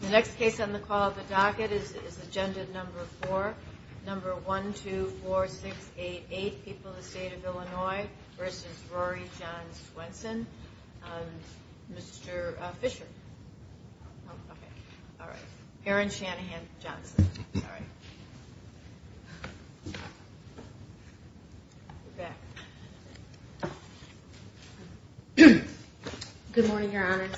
The next case on the call of the docket is agenda number four number one two four six eight eight people the state of Illinois versus Rory John Swenson Mr. Fisher Aaron Shanahan Johnson Good morning your honor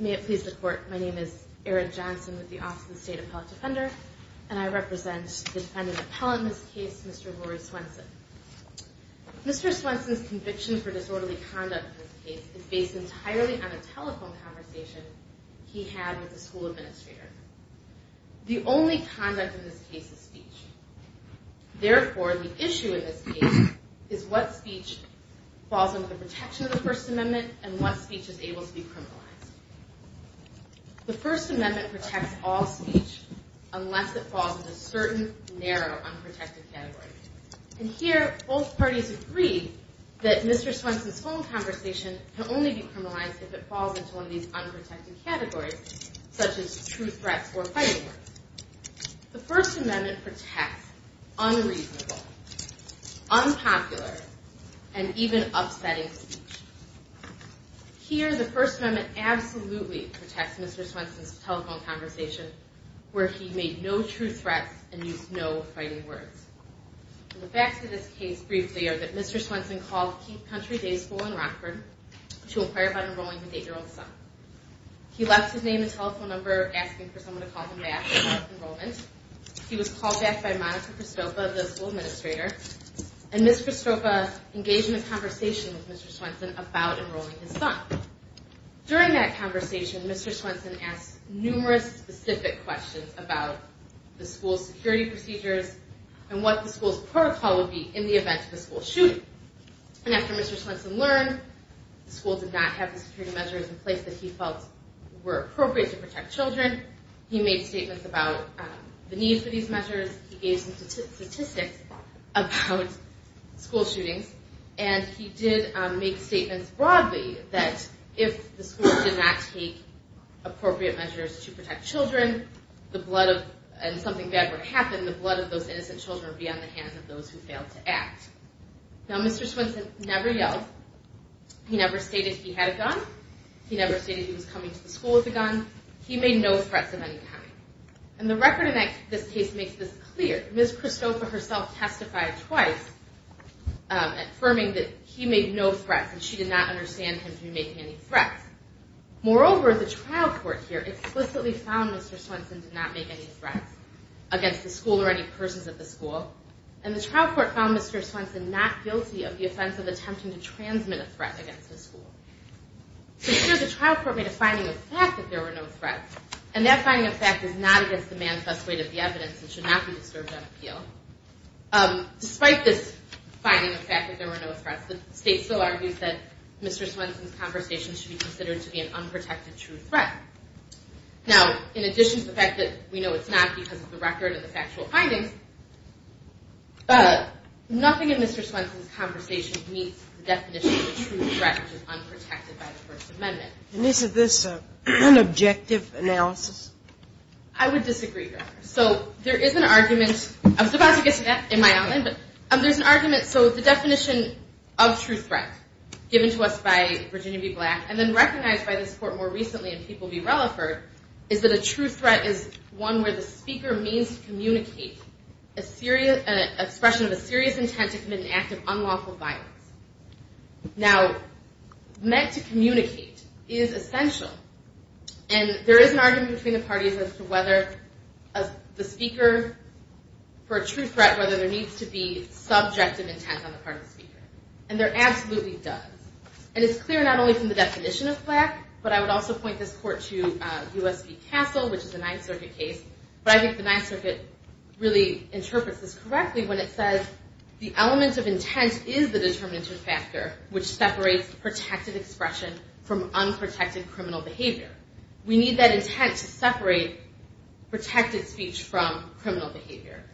May it please the court. My name is Eric Johnson with the office of the state appellate defender, and I represent the defendant appellant in this case Mr. Rory Swenson Mr. Swenson's conviction for disorderly conduct in this case is based entirely on a telephone conversation he had with the school administrator The only conduct in this case is speech Therefore the issue in this case is what speech falls under the protection of the first amendment and what speech is able to be criminalized The first amendment protects all speech unless it falls into a certain narrow unprotected category And here both parties agree that Mr. Swenson's phone conversation can only be criminalized if it falls into one of these unprotected categories Such as true threats or fighting words The first amendment protects unreasonable, unpopular, and even upsetting speech Here the first amendment absolutely protects Mr. Swenson's telephone conversation where he made no true threats and used no fighting words The facts of this case briefly are that Mr. Swenson called Keith Country Day School in Rockford to inquire about enrolling his eight year old son He left his name and telephone number asking for someone to call him back to ask for enrollment He was called back by Monica Prestopa, the school administrator And Ms. Prestopa engaged in a conversation with Mr. Swenson about enrolling his son During that conversation Mr. Swenson asked numerous specific questions about the school's security procedures And what the school's protocol would be in the event of a school shooting And after Mr. Swenson learned the school did not have the security measures in place that he felt were appropriate to protect children He made statements about the need for these measures, he gave some statistics about school shootings And he did make statements broadly that if the school did not take appropriate measures to protect children And something bad were to happen, the blood of those innocent children would be on the hands of those who failed to act Mr. Swenson never yelled, he never stated he had a gun, he never stated he was coming to the school with a gun He made no threats of any kind And the record in this case makes this clear, Ms. Prestopa herself testified twice Affirming that he made no threats and she did not understand him to be making any threats Moreover, the trial court here explicitly found Mr. Swenson did not make any threats against the school or any persons of the school And the trial court found Mr. Swenson not guilty of the offense of attempting to transmit a threat against the school So here the trial court made a finding of fact that there were no threats And that finding of fact is not against the manifest weight of the evidence and should not be disturbed on appeal Despite this finding of fact that there were no threats, the state still argues that Mr. Swenson's conversation should be considered to be an unprotected true threat Now, in addition to the fact that we know it's not because of the record and the factual findings Nothing in Mr. Swenson's conversation meets the definition of a true threat which is unprotected by the First Amendment And isn't this an unobjective analysis? I would disagree, Your Honor So there is an argument, I was about to get to that in my own end There's an argument, so the definition of true threat given to us by Virginia v. Black And then recognized by this court more recently in People v. Relaford Is that a true threat is one where the speaker means to communicate an expression of a serious intent to commit an act of unlawful violence Now, meant to communicate is essential And there is an argument between the parties as to whether the speaker for a true threat, whether there needs to be subjective intent on the part of the speaker And there absolutely does And it's clear not only from the definition of Black, but I would also point this court to U.S. v. Castle which is a Ninth Circuit case But I think the Ninth Circuit really interprets this correctly when it says The element of intent is the determinative factor which separates protected expression from unprotected criminal behavior We need that intent to separate protected speech from criminal behavior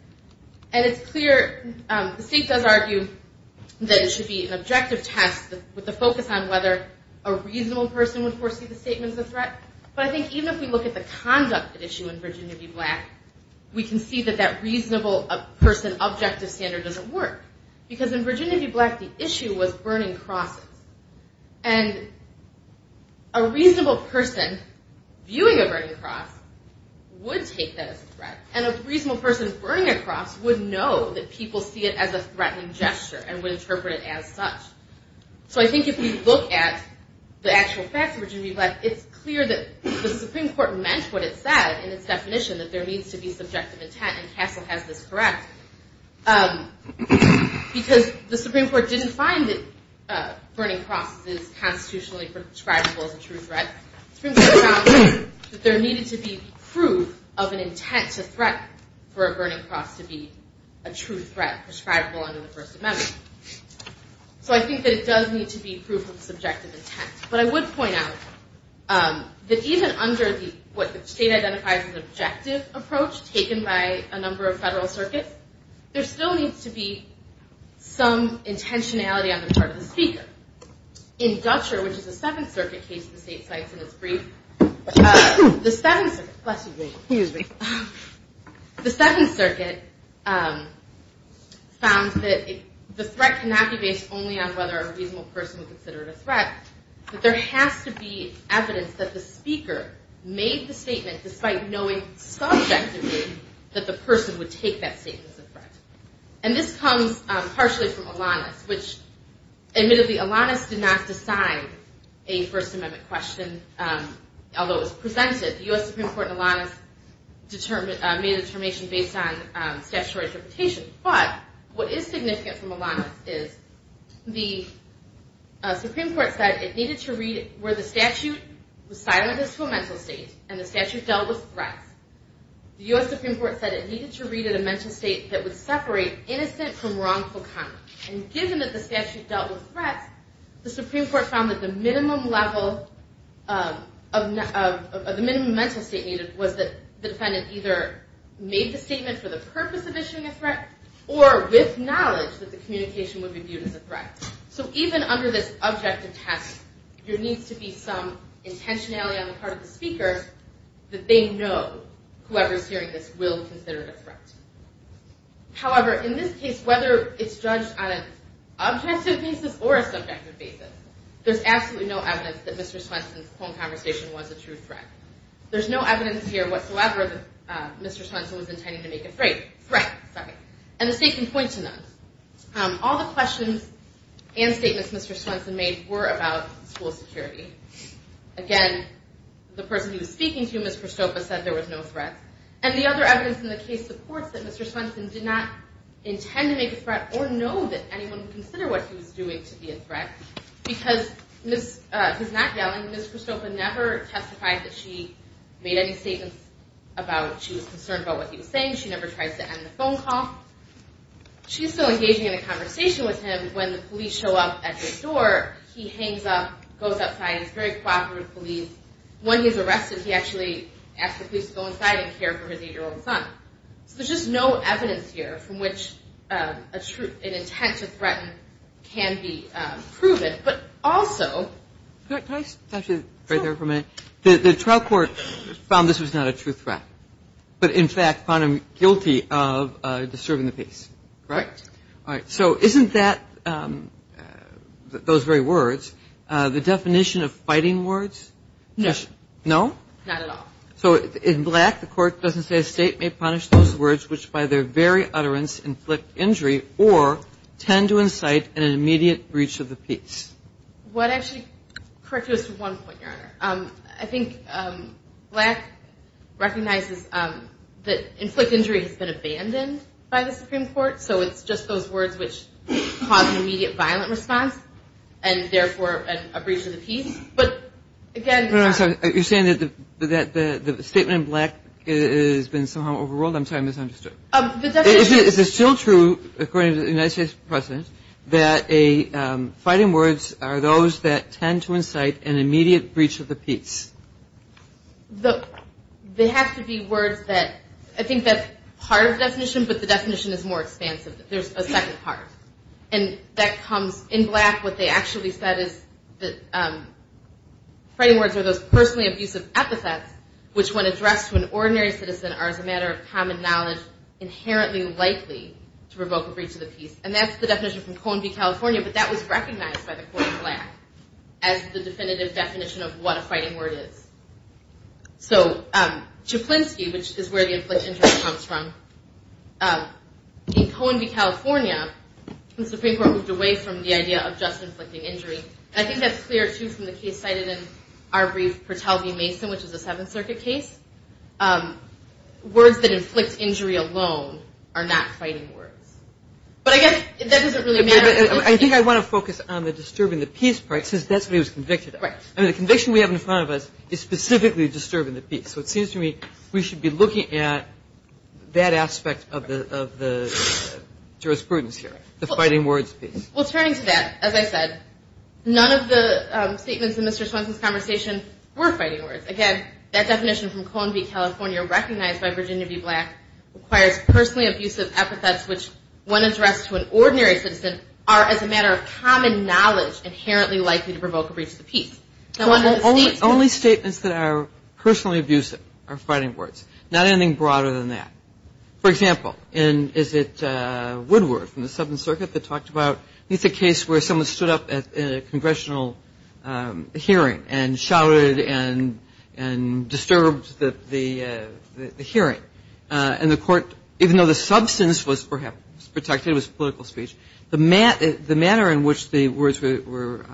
And it's clear, the state does argue that it should be an objective test with the focus on whether a reasonable person would foresee the statement as a threat But I think even if we look at the conduct issue in Virginia v. Black We can see that that reasonable person objective standard doesn't work Because in Virginia v. Black the issue was burning crosses And a reasonable person viewing a burning cross would take that as a threat And a reasonable person burning a cross would know that people see it as a threatening gesture and would interpret it as such So I think if we look at the actual facts of Virginia v. Black It's clear that the Supreme Court meant what it said in its definition that there needs to be subjective intent And Castle has this correct Because the Supreme Court didn't find that burning crosses is constitutionally prescribable as a true threat The Supreme Court found that there needed to be proof of an intent to threat for a burning cross to be a true threat prescribable under the First Amendment So I think that it does need to be proof of subjective intent But I would point out that even under what the state identifies as an objective approach taken by a number of federal circuits There still needs to be some intentionality on the part of the speaker In Dutcher, which is a Seventh Circuit case the state cites in its brief The Seventh Circuit The Seventh Circuit found that the threat cannot be based only on whether a reasonable person would consider it a threat But there has to be evidence that the speaker made the statement despite knowing subjectively that the person would take that statement as a threat And this comes partially from Alanis Which admittedly Alanis did not decide a First Amendment question Although it was presented The U.S. Supreme Court and Alanis made a determination based on statutory interpretation But what is significant from Alanis is the Supreme Court said it needed to read Where the statute was silent as to a mental state and the statute dealt with threats The U.S. Supreme Court said it needed to read at a mental state that would separate innocent from wrongful conduct And given that the statute dealt with threats, the Supreme Court found that the minimum mental state needed Was that the defendant either made the statement for the purpose of issuing a threat Or with knowledge that the communication would be viewed as a threat So even under this objective test, there needs to be some intentionality on the part of the speaker That they know whoever is hearing this will consider it a threat However, in this case, whether it's judged on an objective basis or a subjective basis There's absolutely no evidence that Mr. Swenson's phone conversation was a true threat There's no evidence here whatsoever that Mr. Swenson was intending to make a threat And the state can point to none All the questions and statements Mr. Swenson made were about school security Again, the person he was speaking to, Ms. Christopha, said there was no threat And the other evidence in the case supports that Mr. Swenson did not intend to make a threat Or know that anyone would consider what he was doing to be a threat Because, he's not yelling, Ms. Christopha never testified that she made any statements About she was concerned about what he was saying, she never tried to end the phone call She's still engaging in a conversation with him when the police show up at the store He hangs up, goes outside, he's very cooperative with the police When he's arrested, he actually asks the police to go inside and care for his 8-year-old son So there's just no evidence here from which an intent to threaten can be proven But also Can I stop you right there for a minute? The trial court found this was not a true threat But in fact, found him guilty of disturbing the peace Alright, so isn't that, those very words, the definition of fighting words? No No? Not at all So in Black, the court doesn't say a state may punish those words which by their very utterance Inflict injury or tend to incite an immediate breach of the peace What actually, correct me on this one point, Your Honor I think Black recognizes that inflict injury has been abandoned by the Supreme Court So it's just those words which cause an immediate violent response And therefore a breach of the peace But again You're saying that the statement in Black has been somehow overruled? I'm sorry, I misunderstood Is it still true, according to the United States President That fighting words are those that tend to incite an immediate breach of the peace? That's the definition, but the definition is more expansive There's a second part And that comes, in Black, what they actually said is That fighting words are those personally abusive epithets Which when addressed to an ordinary citizen are as a matter of common knowledge Inherently likely to provoke a breach of the peace And that's the definition from Cohen v. California But that was recognized by the court in Black As the definitive definition of what a fighting word is So, Chaplinsky, which is where the inflict injury comes from In Cohen v. California, the Supreme Court moved away from the idea of just inflicting injury And I think that's clear, too, from the case cited in our brief Pertel v. Mason, which is a Seventh Circuit case Words that inflict injury alone are not fighting words But I guess that doesn't really matter I think I want to focus on the disturbing the peace part Since that's what he was convicted of And the conviction we have in front of us is specifically disturbing the peace So it seems to me we should be looking at that aspect of the jurisprudence here The fighting words piece Well, turning to that, as I said None of the statements in Mr. Swenson's conversation were fighting words Again, that definition from Cohen v. California Recognized by Virginia v. Black Requires personally abusive epithets Which when addressed to an ordinary citizen Are as a matter of common knowledge Inherently likely to provoke a breach of the peace Only statements that are personally abusive are fighting words Not anything broader than that For example, is it Woodward from the Seventh Circuit that talked about It's a case where someone stood up in a congressional hearing And shouted and disturbed the hearing And the court, even though the substance was protected It was political speech The manner in which the words were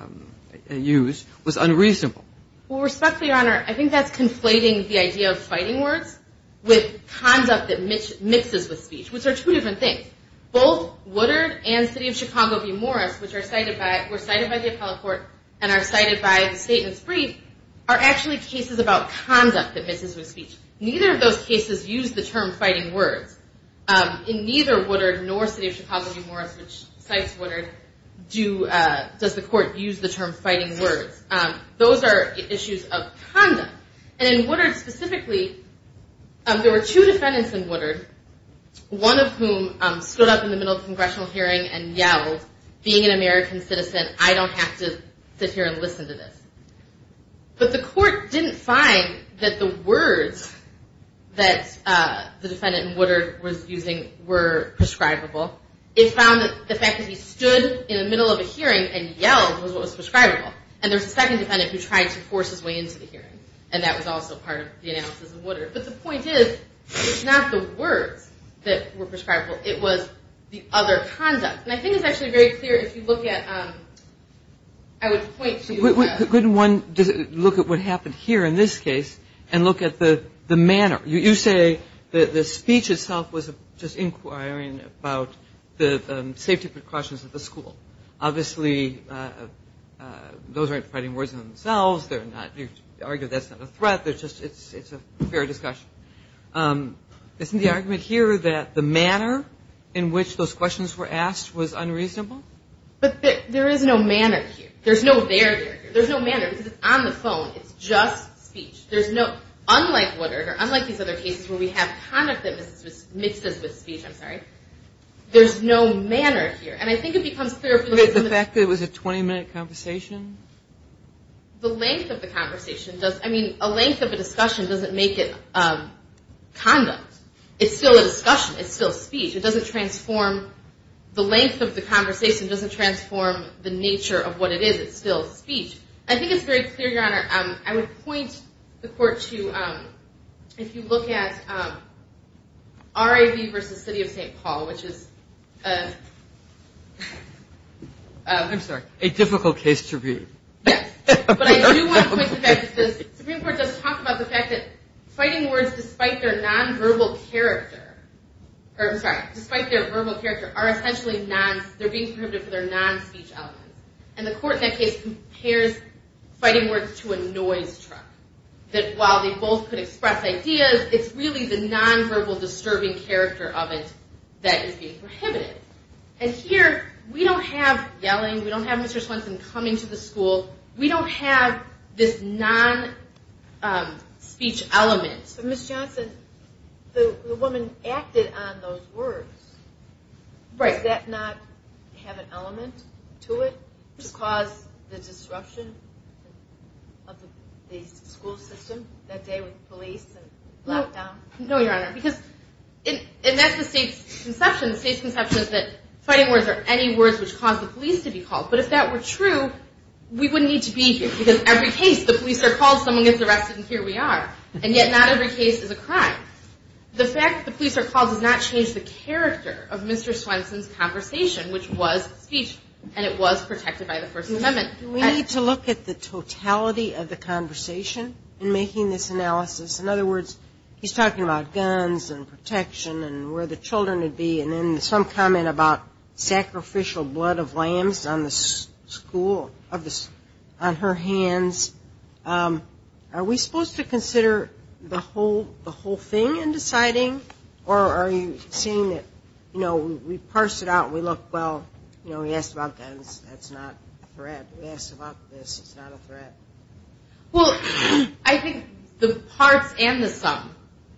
used was unreasonable Well, respectfully, your honor I think that's conflating the idea of fighting words With conduct that mixes with speech Which are two different things Both Woodard and the city of Chicago v. Morris Which were cited by the appellate court And are cited by the state in its brief Are actually cases about conduct that mixes with speech Neither of those cases used the term fighting words In neither Woodard nor the city of Chicago v. Morris Which cites Woodard Does the court use the term fighting words Those are issues of conduct And in Woodard specifically There were two defendants in Woodard One of whom stood up in the middle of the congressional hearing And yelled, being an American citizen I don't have to sit here and listen to this But the court didn't find that the words That the defendant in Woodard was using were prescribable It found that the fact that he stood in the middle of a hearing And yelled was what was prescribable And there was a second defendant Who tried to force his way into the hearing And that was also part of the analysis of Woodard But the point is It's not the words that were prescribable It was the other conduct And I think it's actually very clear If you look at, I would point to Couldn't one look at what happened here in this case And look at the manner You say that the speech itself Was just inquiring about The safety precautions at the school Obviously those aren't fighting words in themselves You argue that's not a threat It's a fair discussion Isn't the argument here That the manner in which those questions were asked Was unreasonable? But there is no manner here There's no there there There's no manner because it's on the phone It's just speech Unlike Woodard or unlike these other cases With speech, I'm sorry There's no manner here And I think it becomes clear The fact that it was a 20-minute conversation? The length of the conversation I mean, a length of a discussion Doesn't make it conduct It's still a discussion It's still speech It doesn't transform The length of the conversation Doesn't transform the nature of what it is It's still speech I think it's very clear, Your Honor I would point the court to Harvey v. City of St. Paul Which is a I'm sorry A difficult case to read But I do want to point to the fact that The Supreme Court does talk about the fact that Fighting words despite their nonverbal character I'm sorry Despite their verbal character They're being prohibited for their non-speech elements And the court in that case Compares fighting words to a noise truck That while they both could express ideas It's really the nonverbal Disturbing character of it That is being prohibited And here, we don't have yelling We don't have Mr. Swenson coming to the school We don't have this non-speech element But Ms. Johnson The woman acted on those words Right Does that not have an element to it? To cause the disruption Of the school system That day with the police No, Your Honor And that's the state's conception The state's conception is that Fighting words are any words Which cause the police to be called But if that were true We wouldn't need to be here Because every case the police are called Someone gets arrested and here we are And yet not every case is a crime The fact that the police are called Does not change the character Of Mr. Swenson's conversation Which was speech And it was protected by the First Amendment He's talking about guns And protection And where the children would be And then some comment about Sacrificial blood of lambs On the school On her hands Are we supposed to consider The whole thing in deciding Or are you saying that We parse it out We look, well We asked about guns That's not a threat We asked about this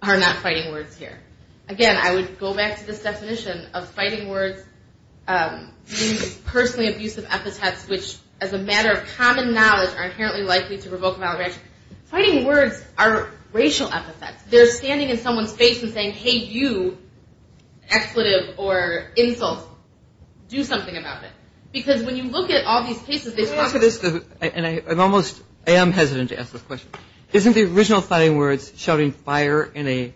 Are not fighting words here Again, I would go back to this definition Of fighting words Being personally abusive epithets Which as a matter of common knowledge Are inherently likely to provoke Fighting words are racial epithets They're standing in someone's face And saying, hey you Expletive or insult Do something about it Because when you look at all these cases And I'm almost I am hesitant to ask this question Isn't the original fighting words In a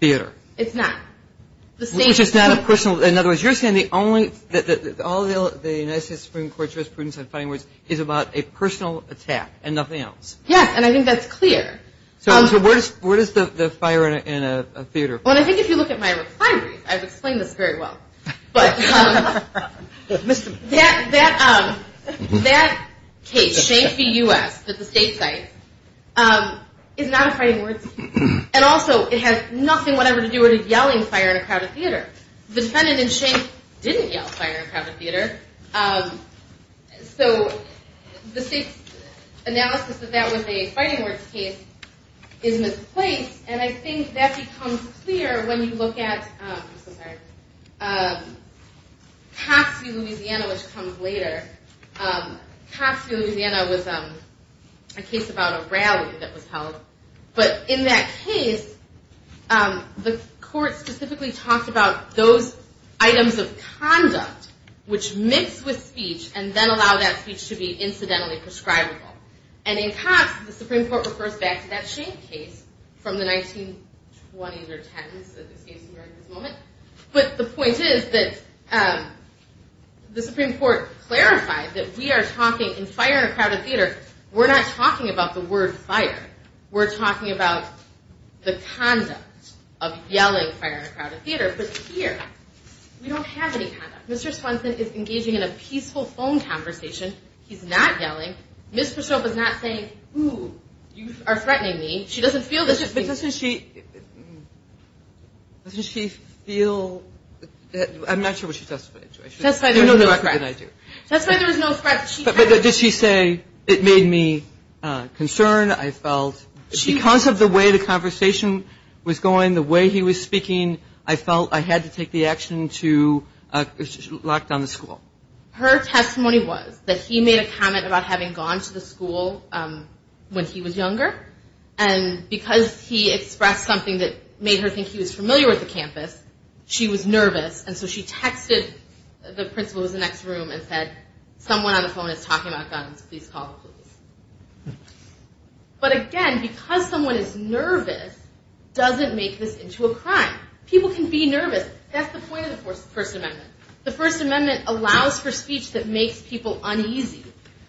theater It's not Which is not a personal In other words, you're saying All of the United States Supreme Court Judges prudence on fighting words Is about a personal attack And nothing else Yes, and I think that's clear So where does the fire in a theater Well, I think if you look at my refineries I've explained this very well But that case Shane v. U.S. That the state cites It has nothing whatever to do With a yelling fire in a crowded theater The defendant in Shane Didn't yell fire in a crowded theater So the state's analysis That that was a fighting words case Is misplaced And I think that becomes clear When you look at I'm so sorry Cox v. Louisiana Which comes later Cox v. Louisiana was A case about a rally that was held But in that case The court specifically talked about Those items of conduct Which mix with speech And then allow that speech To be incidentally prescribable And in Cox The Supreme Court refers back To that Shane case From the 1920s or 10s But the point is The Supreme Court clarified That we are talking In fire in a crowded theater We're not talking about the word fire We're talking about The concept of yelling Fire in a crowded theater But here We don't have any conduct Mr. Swanson is engaging In a peaceful phone conversation He's not yelling Ms. Persaud was not saying You are threatening me She doesn't feel Doesn't she feel I'm not sure what she testified to That's why there was no threat But did she say It made me concerned The way he was going The way he was speaking I felt I had to take the action To lock down the school Her testimony was That he made a comment About having gone to the school When he was younger And because he expressed something That made her think He was familiar with the campus She was nervous And so she texted The principal in the next room And said someone on the phone Can make this into a crime People can be nervous That's the point of the First Amendment The First Amendment allows for speech That makes people uneasy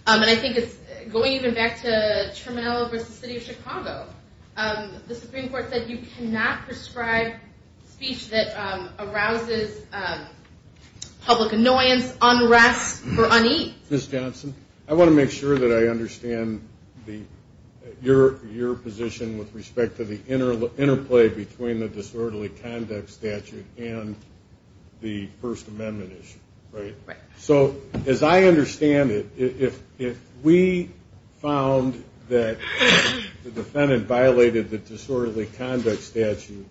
And I think it's Going even back to The Supreme Court said You cannot prescribe speech That arouses Public annoyance Unrest or unease Ms. Johnson I want to make sure That I understand The difference between The disorderly conduct statute And the First Amendment So as I understand it If we found That the defendant Violated the disorderly Conduct statute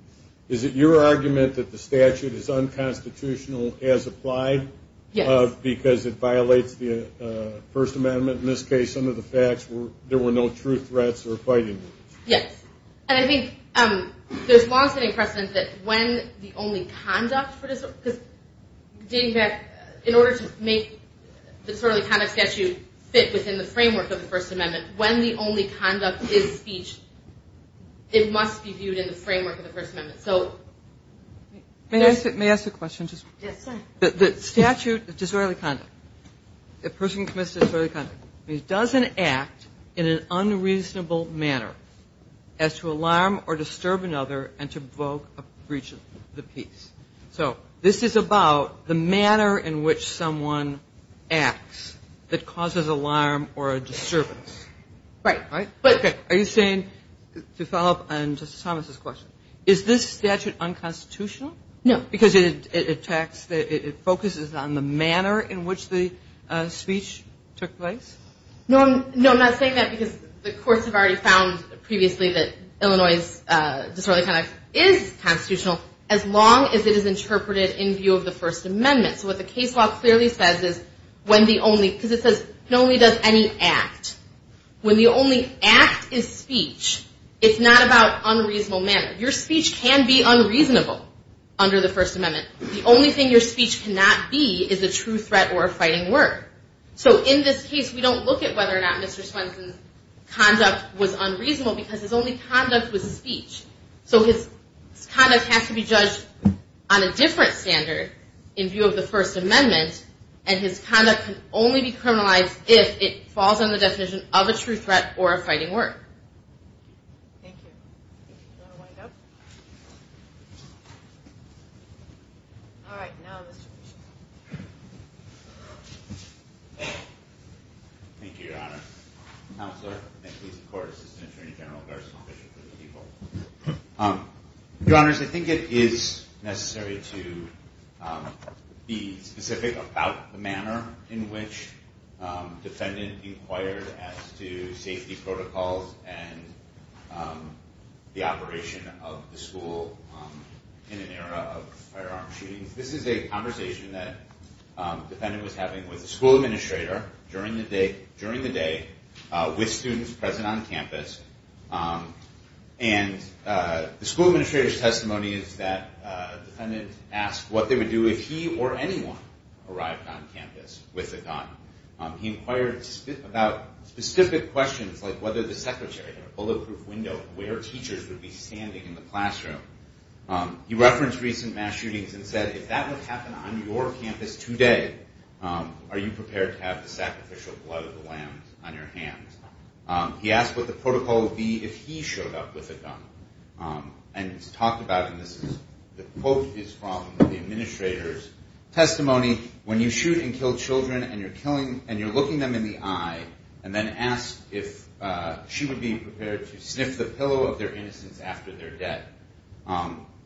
Is it your argument That the statute is Unconstitutional as applied Because it violates The First Amendment In this case under the facts There were no true threats There was a long standing precedent That when the only conduct In order to make The disorderly conduct statute Fit within the framework Of the First Amendment When the only conduct is speech It must be viewed In the framework of the First Amendment May I ask a question The statute of disorderly conduct A person commits disorderly conduct It doesn't act In an unreasonable manner As to alarm or disturb Or evoke a breach of the peace So this is about The manner in which someone Acts that causes Alarm or a disturbance Right Are you saying To follow up on Justice Thomas' question Is this statute unconstitutional No Because it attacks It focuses on the manner In which the speech took place No I'm not saying that Because the courts have already found Previously that Illinois' Conduct is constitutional As long as it is interpreted In view of the First Amendment So what the case law clearly says Is when the only Because it says It only does any act When the only act is speech It's not about unreasonable manner Your speech can be unreasonable Under the First Amendment The only thing your speech cannot be Is a true threat or a fighting word So in this case We don't look at whether or not His conduct has to be judged On a different standard In view of the First Amendment And his conduct can only be criminalized If it falls under the definition Of a true threat or a fighting word Thank you Do you want to wind up All right now Mr. Bishop Thank you Your Honor Counselor and police and court assistant Attorney General Garza And Mr. Bishop Your Honors I think it is necessary To be specific about The manner in which Defendant inquired As to safety protocols And the operation Of the school In an era of Firearm shootings This is a conversation That defendant was having With the school administrator During the day And the school Administrator's testimony Is that defendant Asked what they would do If he or anyone Arrived on campus With a gun He inquired about Specific questions Like whether the secretary Had a bulletproof window Of where teachers Would be standing In the classroom He referenced recent Incident where a teacher Showed up with a gun And talked about The quote is from The administrator's testimony When you shoot and kill children And you're looking them in the eye And then ask if She would be prepared To sniff the pillow Of their innocence After their death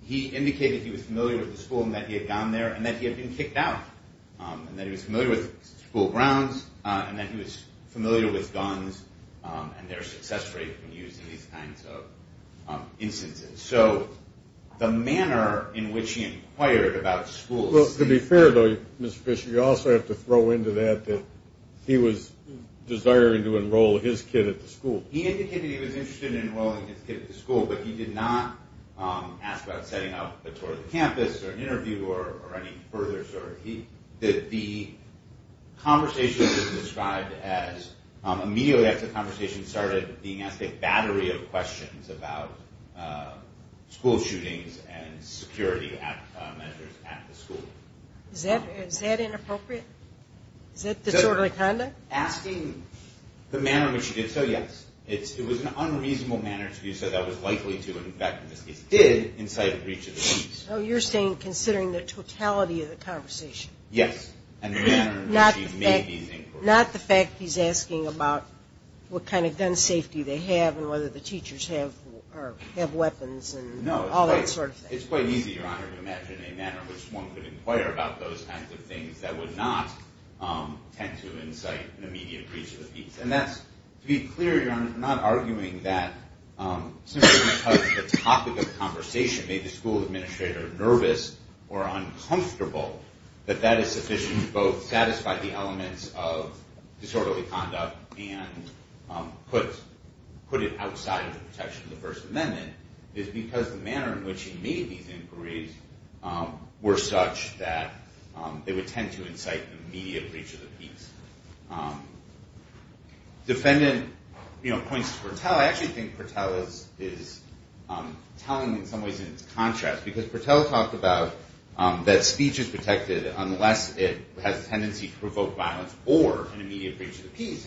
He indicated he was familiar With the school And that he had gone there In a series of instances So the manner In which he inquired About schools Well to be fair though Mr. Fisher you also have To throw into that That he was desiring To enroll his kid at the school He indicated he was Interested in enrolling His kid at the school But he did not Ask about setting up A tour of the campus And asking questions About school shootings And security measures At the school Is that inappropriate? Is that disorderly conduct? Asking the manner In which he did so, yes It was an unreasonable manner To do so that was likely To infect his kid Inside the reach of the police So you're saying Considering the totality Of the conversation That he did not Have weapons And all that sort of thing No it's quite easy Your honor to imagine A manner in which One could inquire About those kinds of things That would not Tend to incite An immediate breach of the peace And that's to be clear Your honor I'm not arguing That simply because The topic of conversation In the first amendment Is because the manner In which he made these inquiries Were such that They would tend to incite An immediate breach of the peace Defendant points to Pertell I actually think Pertell Is telling in some ways In its contrast Because Pertell talked about That speech is protected Unless it has a tendency To provoke violence Or an immediate breach of the peace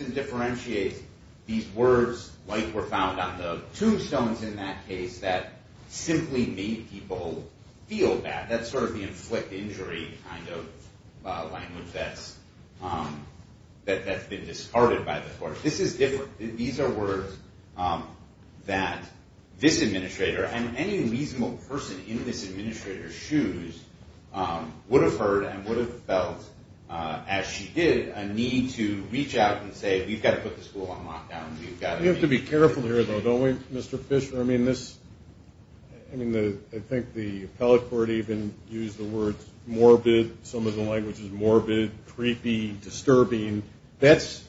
And Pertell is in that case That simply made people Feel bad That's sort of the inflict Injury kind of language That's been discarded by the court This is different These are words That this administrator And any reasonable person In this administrator's shoes Would have heard And would have felt As she did A need to reach out To this administrator I think the appellate court Even used the words Morbid, some of the language Is morbid, creepy, disturbing That's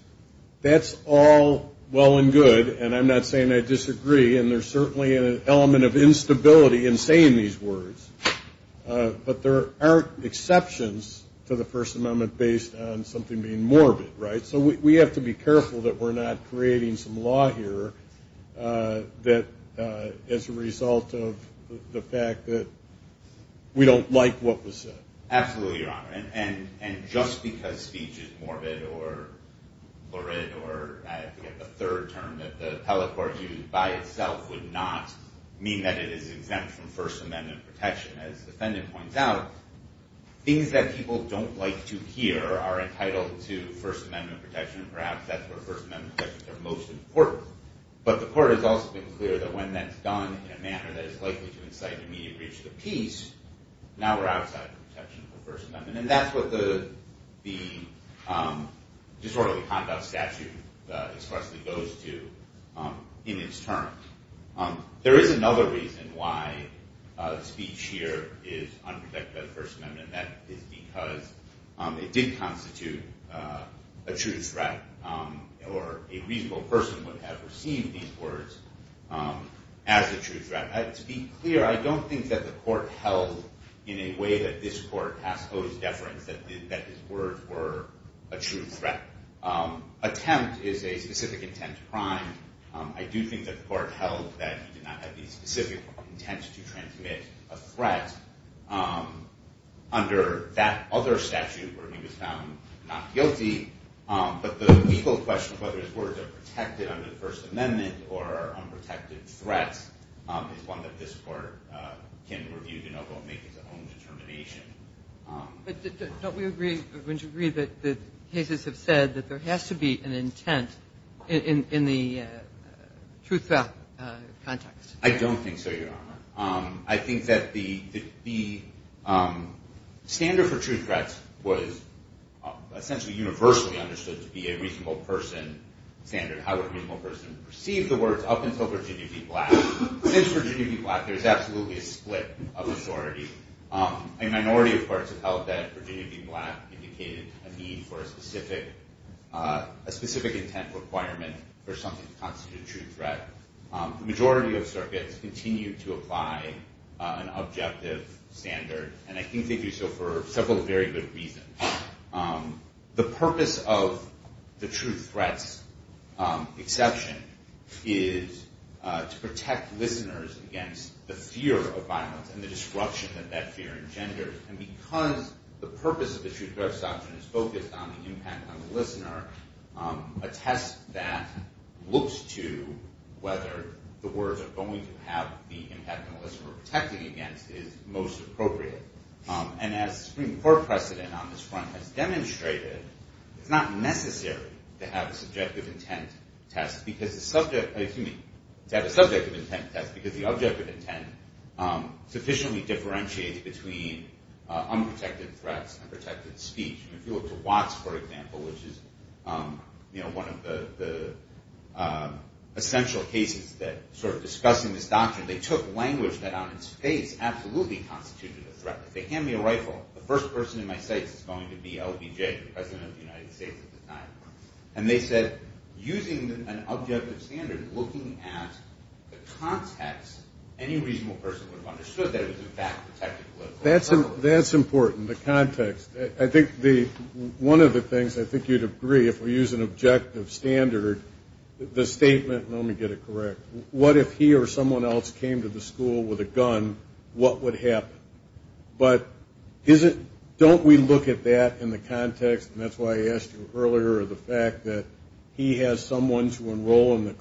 all well and good And I'm not saying I disagree And there's certainly An element of instability In saying these words But there aren't exceptions To the first amendment Based on something being morbid So we have to be careful That we're not creating As a result of The fact that We don't like what was said Absolutely, your honor And just because speech is morbid Or lurid Or I forget the third term That the appellate court used By itself would not Mean that it is exempt From first amendment protection As the defendant points out Things that people don't like to hear Are entitled to first amendment protection And perhaps that's where When that's done in a manner That is likely to incite Immediate breach of the peace Now we're outside the protection Of the first amendment And that's what the disorderly conduct Statute expressly goes to In its term There is another reason Why speech here Is unprotected by the first amendment And that is because It did constitute A true threat Or a reasonable person As a true threat To be clear I don't think that the court held In a way that this court Has posed deference That his words were a true threat Attempt is a specific intent to crime I do think that the court held That he did not have The specific intent To transmit a threat Under that other statute Where he was found not guilty But the legal question Of whether his words Were a true threat Is one that this court Can review to make Its own determination But don't we agree Wouldn't you agree That the cases have said That there has to be an intent In the true threat context I don't think so your honor I think that the Standard for true threats Was essentially universally Understood to be a reasonable person Standard And how a reasonable person Perceived the words Up until Virginia v. Black Since Virginia v. Black There's absolutely a split Of authority A minority of courts Have held that Virginia v. Black Indicated a need For a specific intent Requirement for something To constitute a true threat The majority of circuits Continue to apply And one Exception Is to protect listeners Against the fear of violence And the destruction That that fear engenders And because the purpose Of the true threat statute Is focused on the impact On the listener A test that looks to Whether the words Are going to have The impact on the listener Or protecting against The threat To have a subject of intent test Because the object of intent Sufficiently differentiates Between unprotected threats And unprotected speech If you look to Watts for example Which is one of the Essential cases That sort of discuss in this doctrine They took language That on its face Absolutely constituted a threat If they hand me a rifle The first person in my sights Would use an objective standard Looking at the context Any reasonable person Would have understood That it was in fact Protecting the listener That's important, the context I think one of the things I think you'd agree If we use an objective standard The statement, let me get it correct What if he or someone else Came to the school with a gun What would happen? But don't we look at that As a threat to enroll In the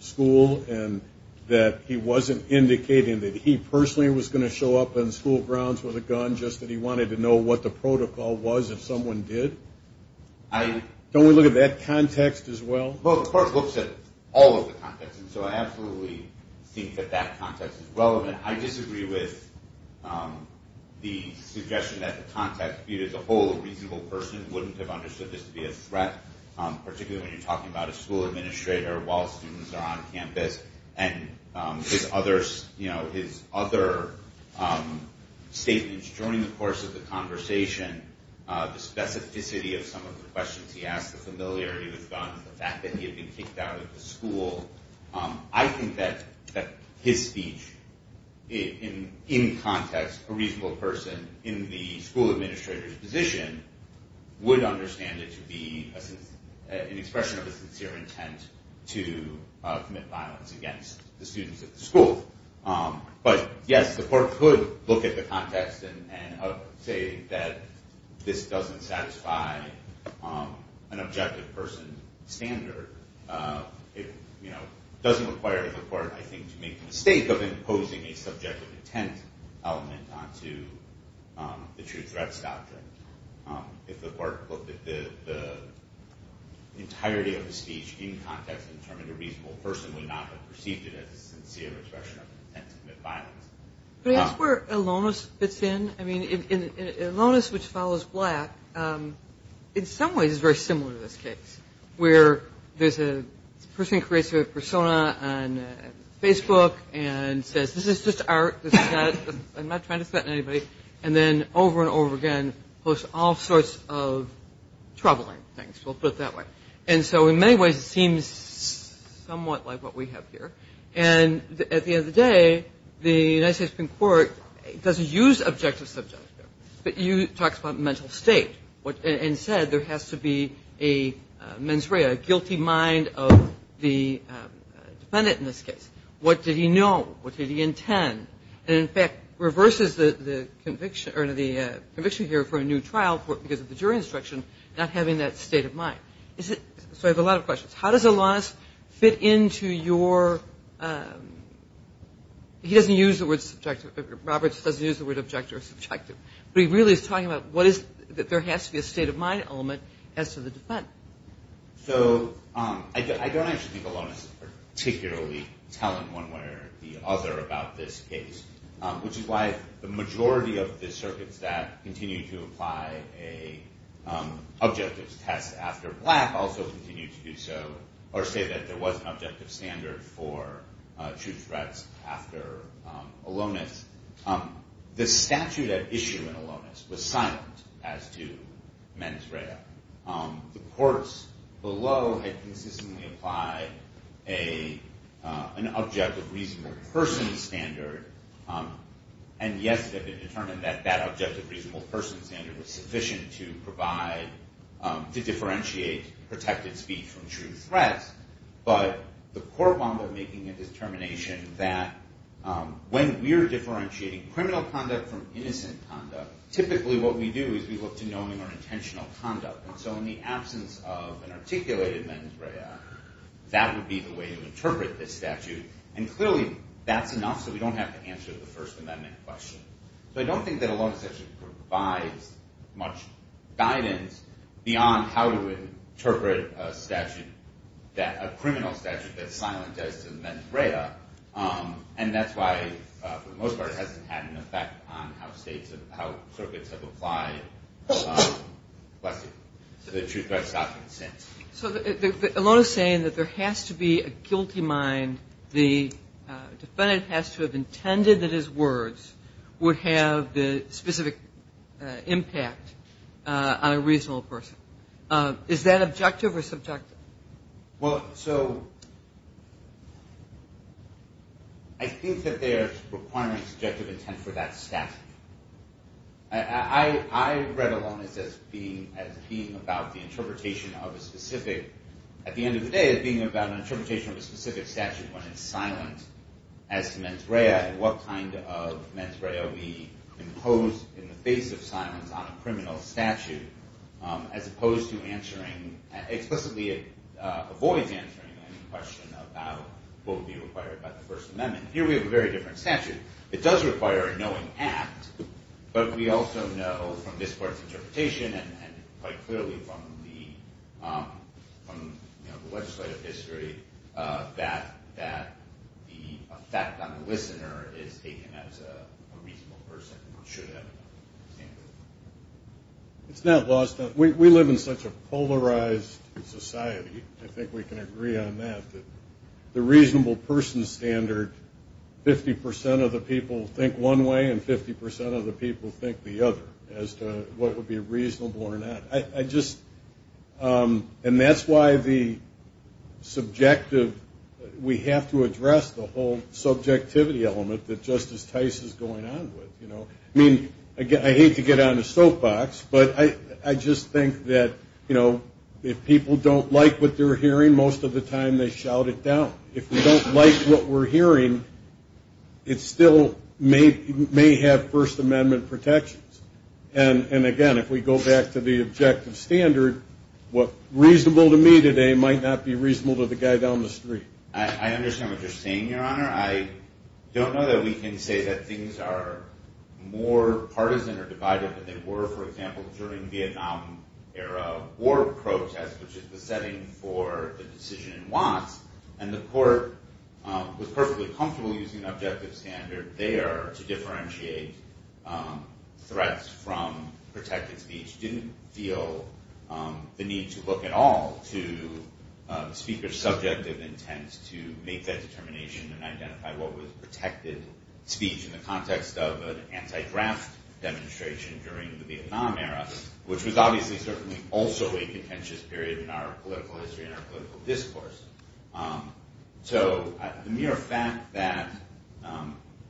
school And that he wasn't Indicating that he personally Was going to show up On school grounds with a gun Just that he wanted to know What the protocol was If someone did? Don't we look at that context as well? Well the court looks at All of the context And so I absolutely Think that that context is relevant I disagree with the suggestion That the school administrator While students are on campus And his other Statements during the course Of the conversation The specificity of some Of the questions he asked The familiarity with guns The fact that he had been Kicked out of the school I think that his speech In context A reasonable person In the school administrator's position Would understand it to be To commit violence Against the students at the school But yes the court Could look at the context And say that This doesn't satisfy An objective person standard It doesn't require the court I think to make the mistake Of imposing a subjective intent Element onto The true threats doctrine If the court looked at The entirety of the speech In context And determined a reasonable person Would not have perceived it As a sincere expression Of intent to commit violence Could I ask where Elonis fits in I mean in Elonis Which follows Black In some ways is very similar To this case Where there's a person Who creates a persona On Facebook And says this is just Seems somewhat Like what we have here And at the end of the day The United States Supreme Court Doesn't use objective subject But talks about mental state And said there has to be A mens rea A guilty mind of the Defendant in this case What did he know What did he intend And in fact reverses The conviction here For a new trial So how does Elonis Fit into your He doesn't use the word subjective Robert doesn't use the word Objective or subjective But he really is talking about What is there has to be A state of mind element As to the defendant So I don't actually think Elonis is particularly Telling one way or the other About this case Which is why the majority Of the circuits that Continue to apply Objective tests after Black Also continue to do so Or say that there was An objective standard for True threats after Elonis The statute at issue In Elonis was silent As to mens rea The courts below Had consistently applied An objective reasonable Person standard And yes it had been That that objective reasonable Person standard was sufficient To provide, to differentiate Protected speech from true threats But the court wound up Making a determination that When we're differentiating Criminal conduct from Innocent conduct Typically what we do Is we look to knowing Our intentional conduct And so in the absence Of an articulated mens rea That would be the way I don't think that Elonis actually provides Much guidance beyond How to interpret A criminal statute That's silent as to mens rea And that's why For the most part It hasn't had an effect On how circuits have applied To the true threats after Innocence So Elonis is saying That there has to be A guilty mind To have a specific Impact On a reasonable person Is that objective or subjective? Well so I think that there's Requirement of subjective Intent for that statute I read Elonis as being About the interpretation Of a specific At the end of the day As being about an interpretation Of a specific statute That's posed in the face Of silence on a criminal statute As opposed to answering Explicitly it avoids Answering any question About what would be required By the first amendment Here we have a very different statute It does require a knowing act But we also know From this part's interpretation And quite clearly from The legislative history That the effect On the listener Is that it It's not lost We live in such A polarized society I think we can agree on that The reasonable person standard 50% of the people Think one way And 50% of the people Think the other As to what would be Reasonable or not And that's why the Subjective We have to address And I hate to get On the soapbox But I just think that If people don't like What they're hearing Most of the time They shout it down If we don't like What we're hearing It still may have First amendment protections And again if we go back To the objective standard What's reasonable to me Today might not be As bipartisan or divided As they were for example During Vietnam era War protests Which is the setting For the decision in Watts And the court Was perfectly comfortable Using objective standard There to differentiate Threats from protected speech Didn't feel the need To look at all To speaker's subjective Intent to make that Demonstration during The Vietnam era Which was obviously Certainly also a contentious period In our political history And our political discourse So the mere fact that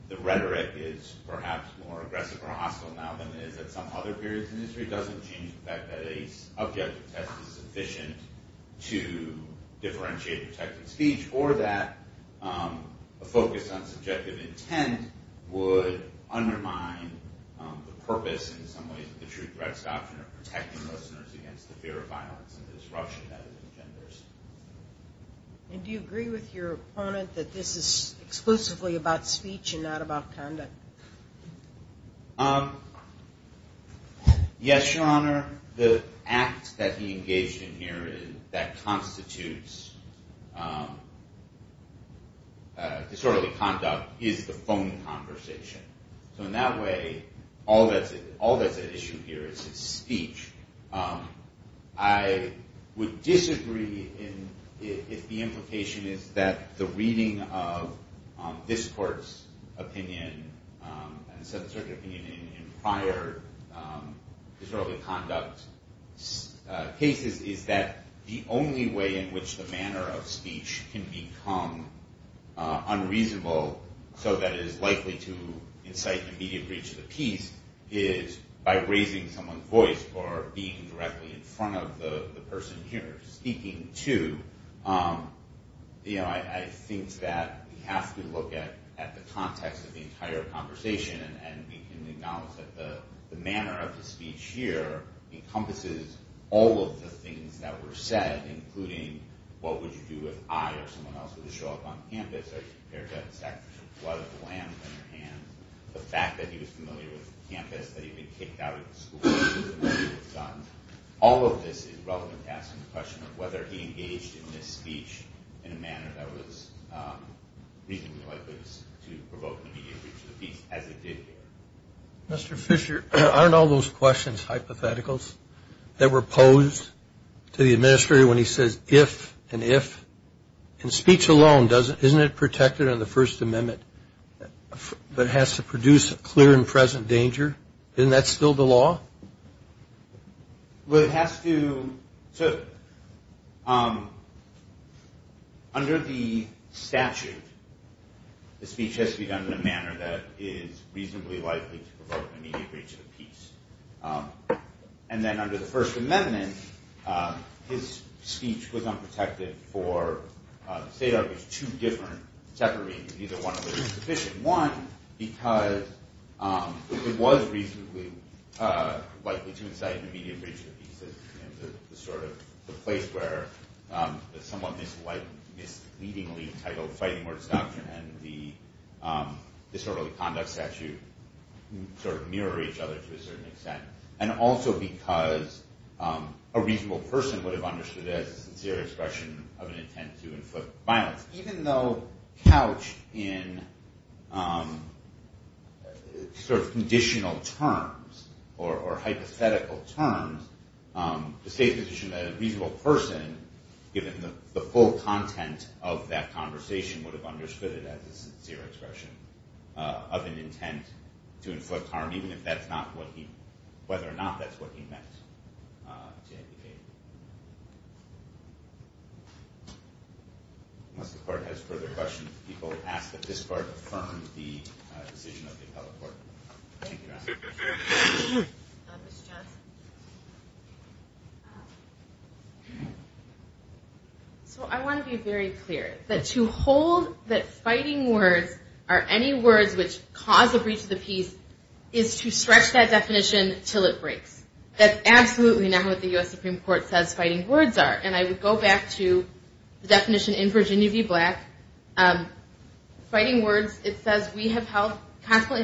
The rhetoric is perhaps More aggressive or hostile Now than it is at some Other periods in history Doesn't change the fact That a subjective test Is sufficient to Differentiate protected speech From the purpose In some ways Of the true threats Option of protecting Listeners against the fear Of violence and disruption That it engenders And do you agree With your opponent That this is exclusively About speech and not about Conduct Yes your honor The act that he engaged In here that constitutes All that's at issue here Is his speech I would disagree If the implication is That the reading of This court's opinion And certain opinion In prior Israeli conduct Cases is that The only way in which The manner of speech Can become unreasonable So that it is likely to Incite immediate breach Is by raising someone's voice Or being directly in front Of the person here Speaking to You know I think that We have to look at The context of the entire Conversation and we can Acknowledge that the manner Of the speech here Encompasses all of the Things that were said Including what would you do If I or someone else Would show up on campus That he'd been kicked out Of the school All of this is relevant To asking the question Of whether he engaged In this speech in a manner That was reasonably likely To provoke an immediate breach Of the peace as it did here Mr. Fisher aren't all Those questions hypotheticals That were posed to the Administrator when he says If and if And speech alone Isn't that still the law Well it has to So Under the statute The speech has to be done In a manner that is Reasonably likely to provoke An immediate breach of the peace And then under the first Amendment his speech Was unprotected for The state of two different Separating either one of them One because It was reasonably likely To incite an immediate Breach of the peace The sort of place where Someone misleadingly Titled fighting words Doctrine and the Disorderly conduct statute Sort of mirror each other To a certain extent And also because A reasonable person Would have understood it As a sincere expression Of an intent to inflict Harm or hypothetical Terms the state position That a reasonable person Given the full content Of that conversation Would have understood it As a sincere expression Of an intent to inflict harm Even if that's not what he Whether or not that's what He meant to indicate Unless the court Has further questions People ask that this court Affirm the decision So I want to be very clear That to hold that Fighting words are any Words which cause a Breach of the peace Is to stretch that Definition until it breaks That's absolutely not what The U.S. Supreme Court Says fighting words are And I would go back to The definition in Virginia v. Black Fighting words it says We have held Personally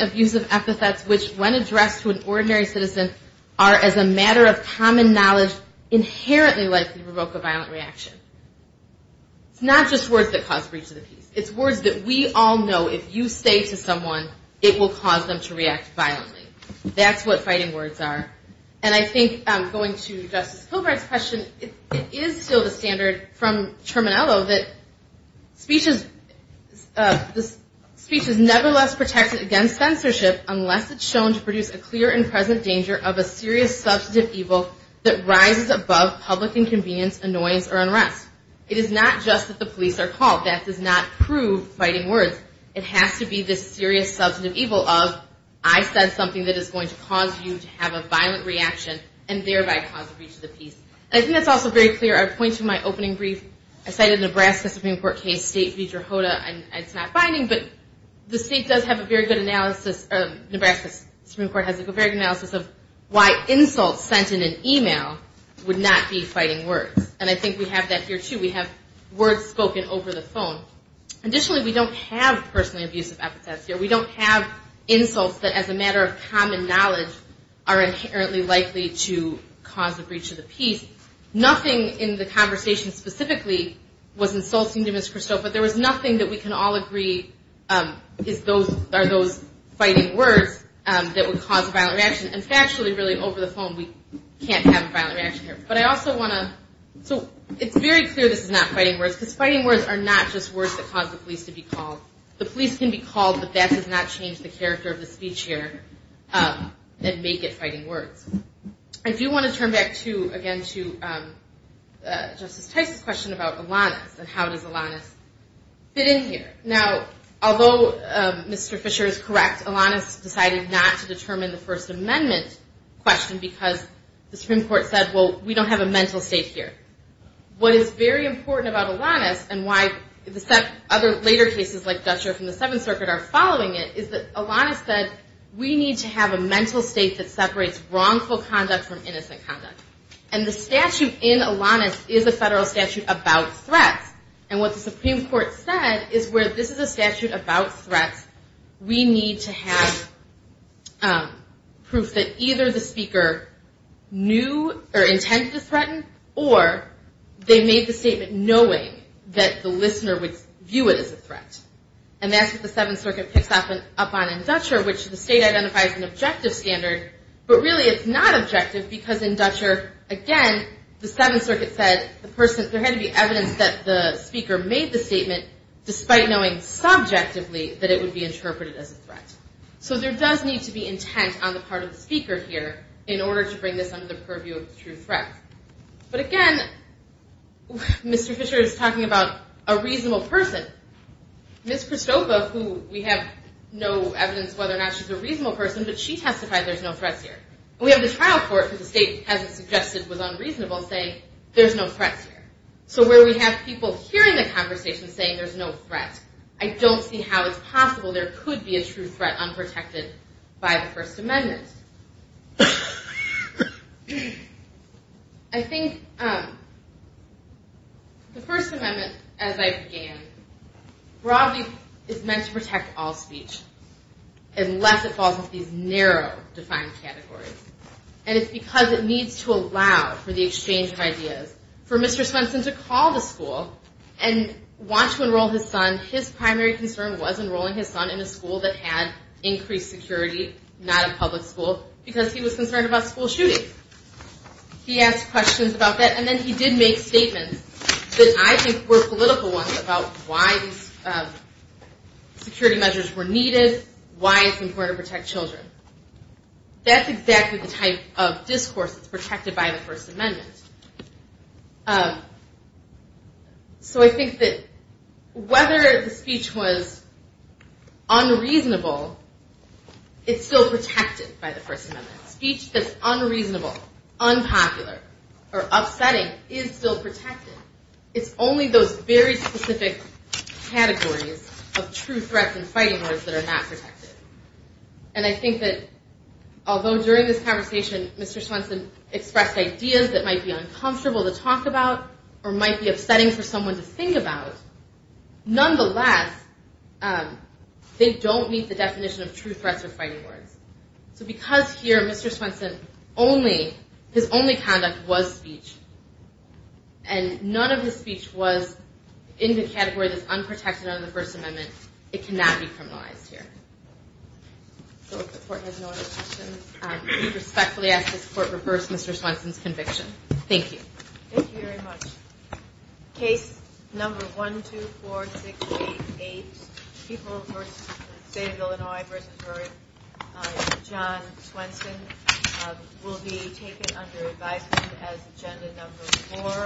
abusive epithets Which when addressed To an ordinary citizen Are as a matter of Common knowledge Inherently likely to provoke A violent reaction It's not just words that Cause breach of the peace It's words that we all know If you say to someone It will cause them to react Violently that's what Fighting words are And I think going to And censorship unless It's shown to produce A clear and present Danger of a serious Substantive evil That rises above Public inconvenience Annoyance or unrest It is not just that The police are called That does not prove Fighting words It has to be this Serious substantive evil Of I said something The Supreme Court Has a very good analysis Of why insults sent In an email Would not be fighting words And I think we have that here too We have words spoken over the phone Additionally we don't have Personally abusive epithets here We don't have insults That as a matter of Common knowledge Are inherently likely To cause a breach of the peace Nothing in the conversation Specifically was insulting To Ms. Christophe But there was nothing That we can all agree Are those fighting words That would cause a violent reaction And factually really over the phone We can't have a violent reaction here But I also want to So it's very clear This is not fighting words Because fighting words Are not just words That cause the police To be called So let me ask a question About Alanis And how does Alanis Fit in here Now although Mr. Fischer Is correct Alanis decided Not to determine the First Amendment question Because the Supreme Court Said well we don't have A mental state here What is very important About Alanis and why Other later cases like Dutcher from the 7th Circuit have a statute About threats And what the Supreme Court Said is where this is A statute about threats We need to have Proof that either the Speaker knew Or intended to threaten Or they made the statement Knowing that the listener Would view it as a threat And that's what the 7th Circuit picks up on In Dutcher which the Speaker made the statement Despite knowing subjectively That it would be Interpreted as a threat So there does need to be Intent on the part of the Speaker here in order to Bring this under the purview Of the true threat But again Mr. Fischer is Talking about a reasonable Person Ms. Kristopa who We have no evidence whether Or not she's a reasonable Person but she testified So where we have people Hearing the conversation Saying there's no threat I don't see how it's possible There could be a true threat Unprotected by the First Amendment I think The First Amendment As I began Broadly is meant to Protect all speech Unless it falls into These narrow defined Categories and it's because He called a school And wants to enroll his son His primary concern was Enrolling his son in a school That had increased security Not a public school Because he was concerned About school shooting He asked questions about that And then he did make Statements that I think Were political ones About why these security Measures were needed Why it's important to Protect all speech So I think that Whether the speech was Unreasonable It's still protected By the First Amendment Speech that's unreasonable Unpopular or upsetting Is still protected It's only those very Specific categories Of true threats And fighting words That are not protected And I think that Even if it's really upsetting For someone to think about Nonetheless They don't meet the Definition of true threats Or fighting words So because here Mr. Swenson, his only Conduct was speech And none of his speech Was in the category That's unprotected Under the First Amendment It cannot be criminalized Here Case number 124688 People versus State of Illinois John Swenson Will be taken under Advisement as Agenda number 4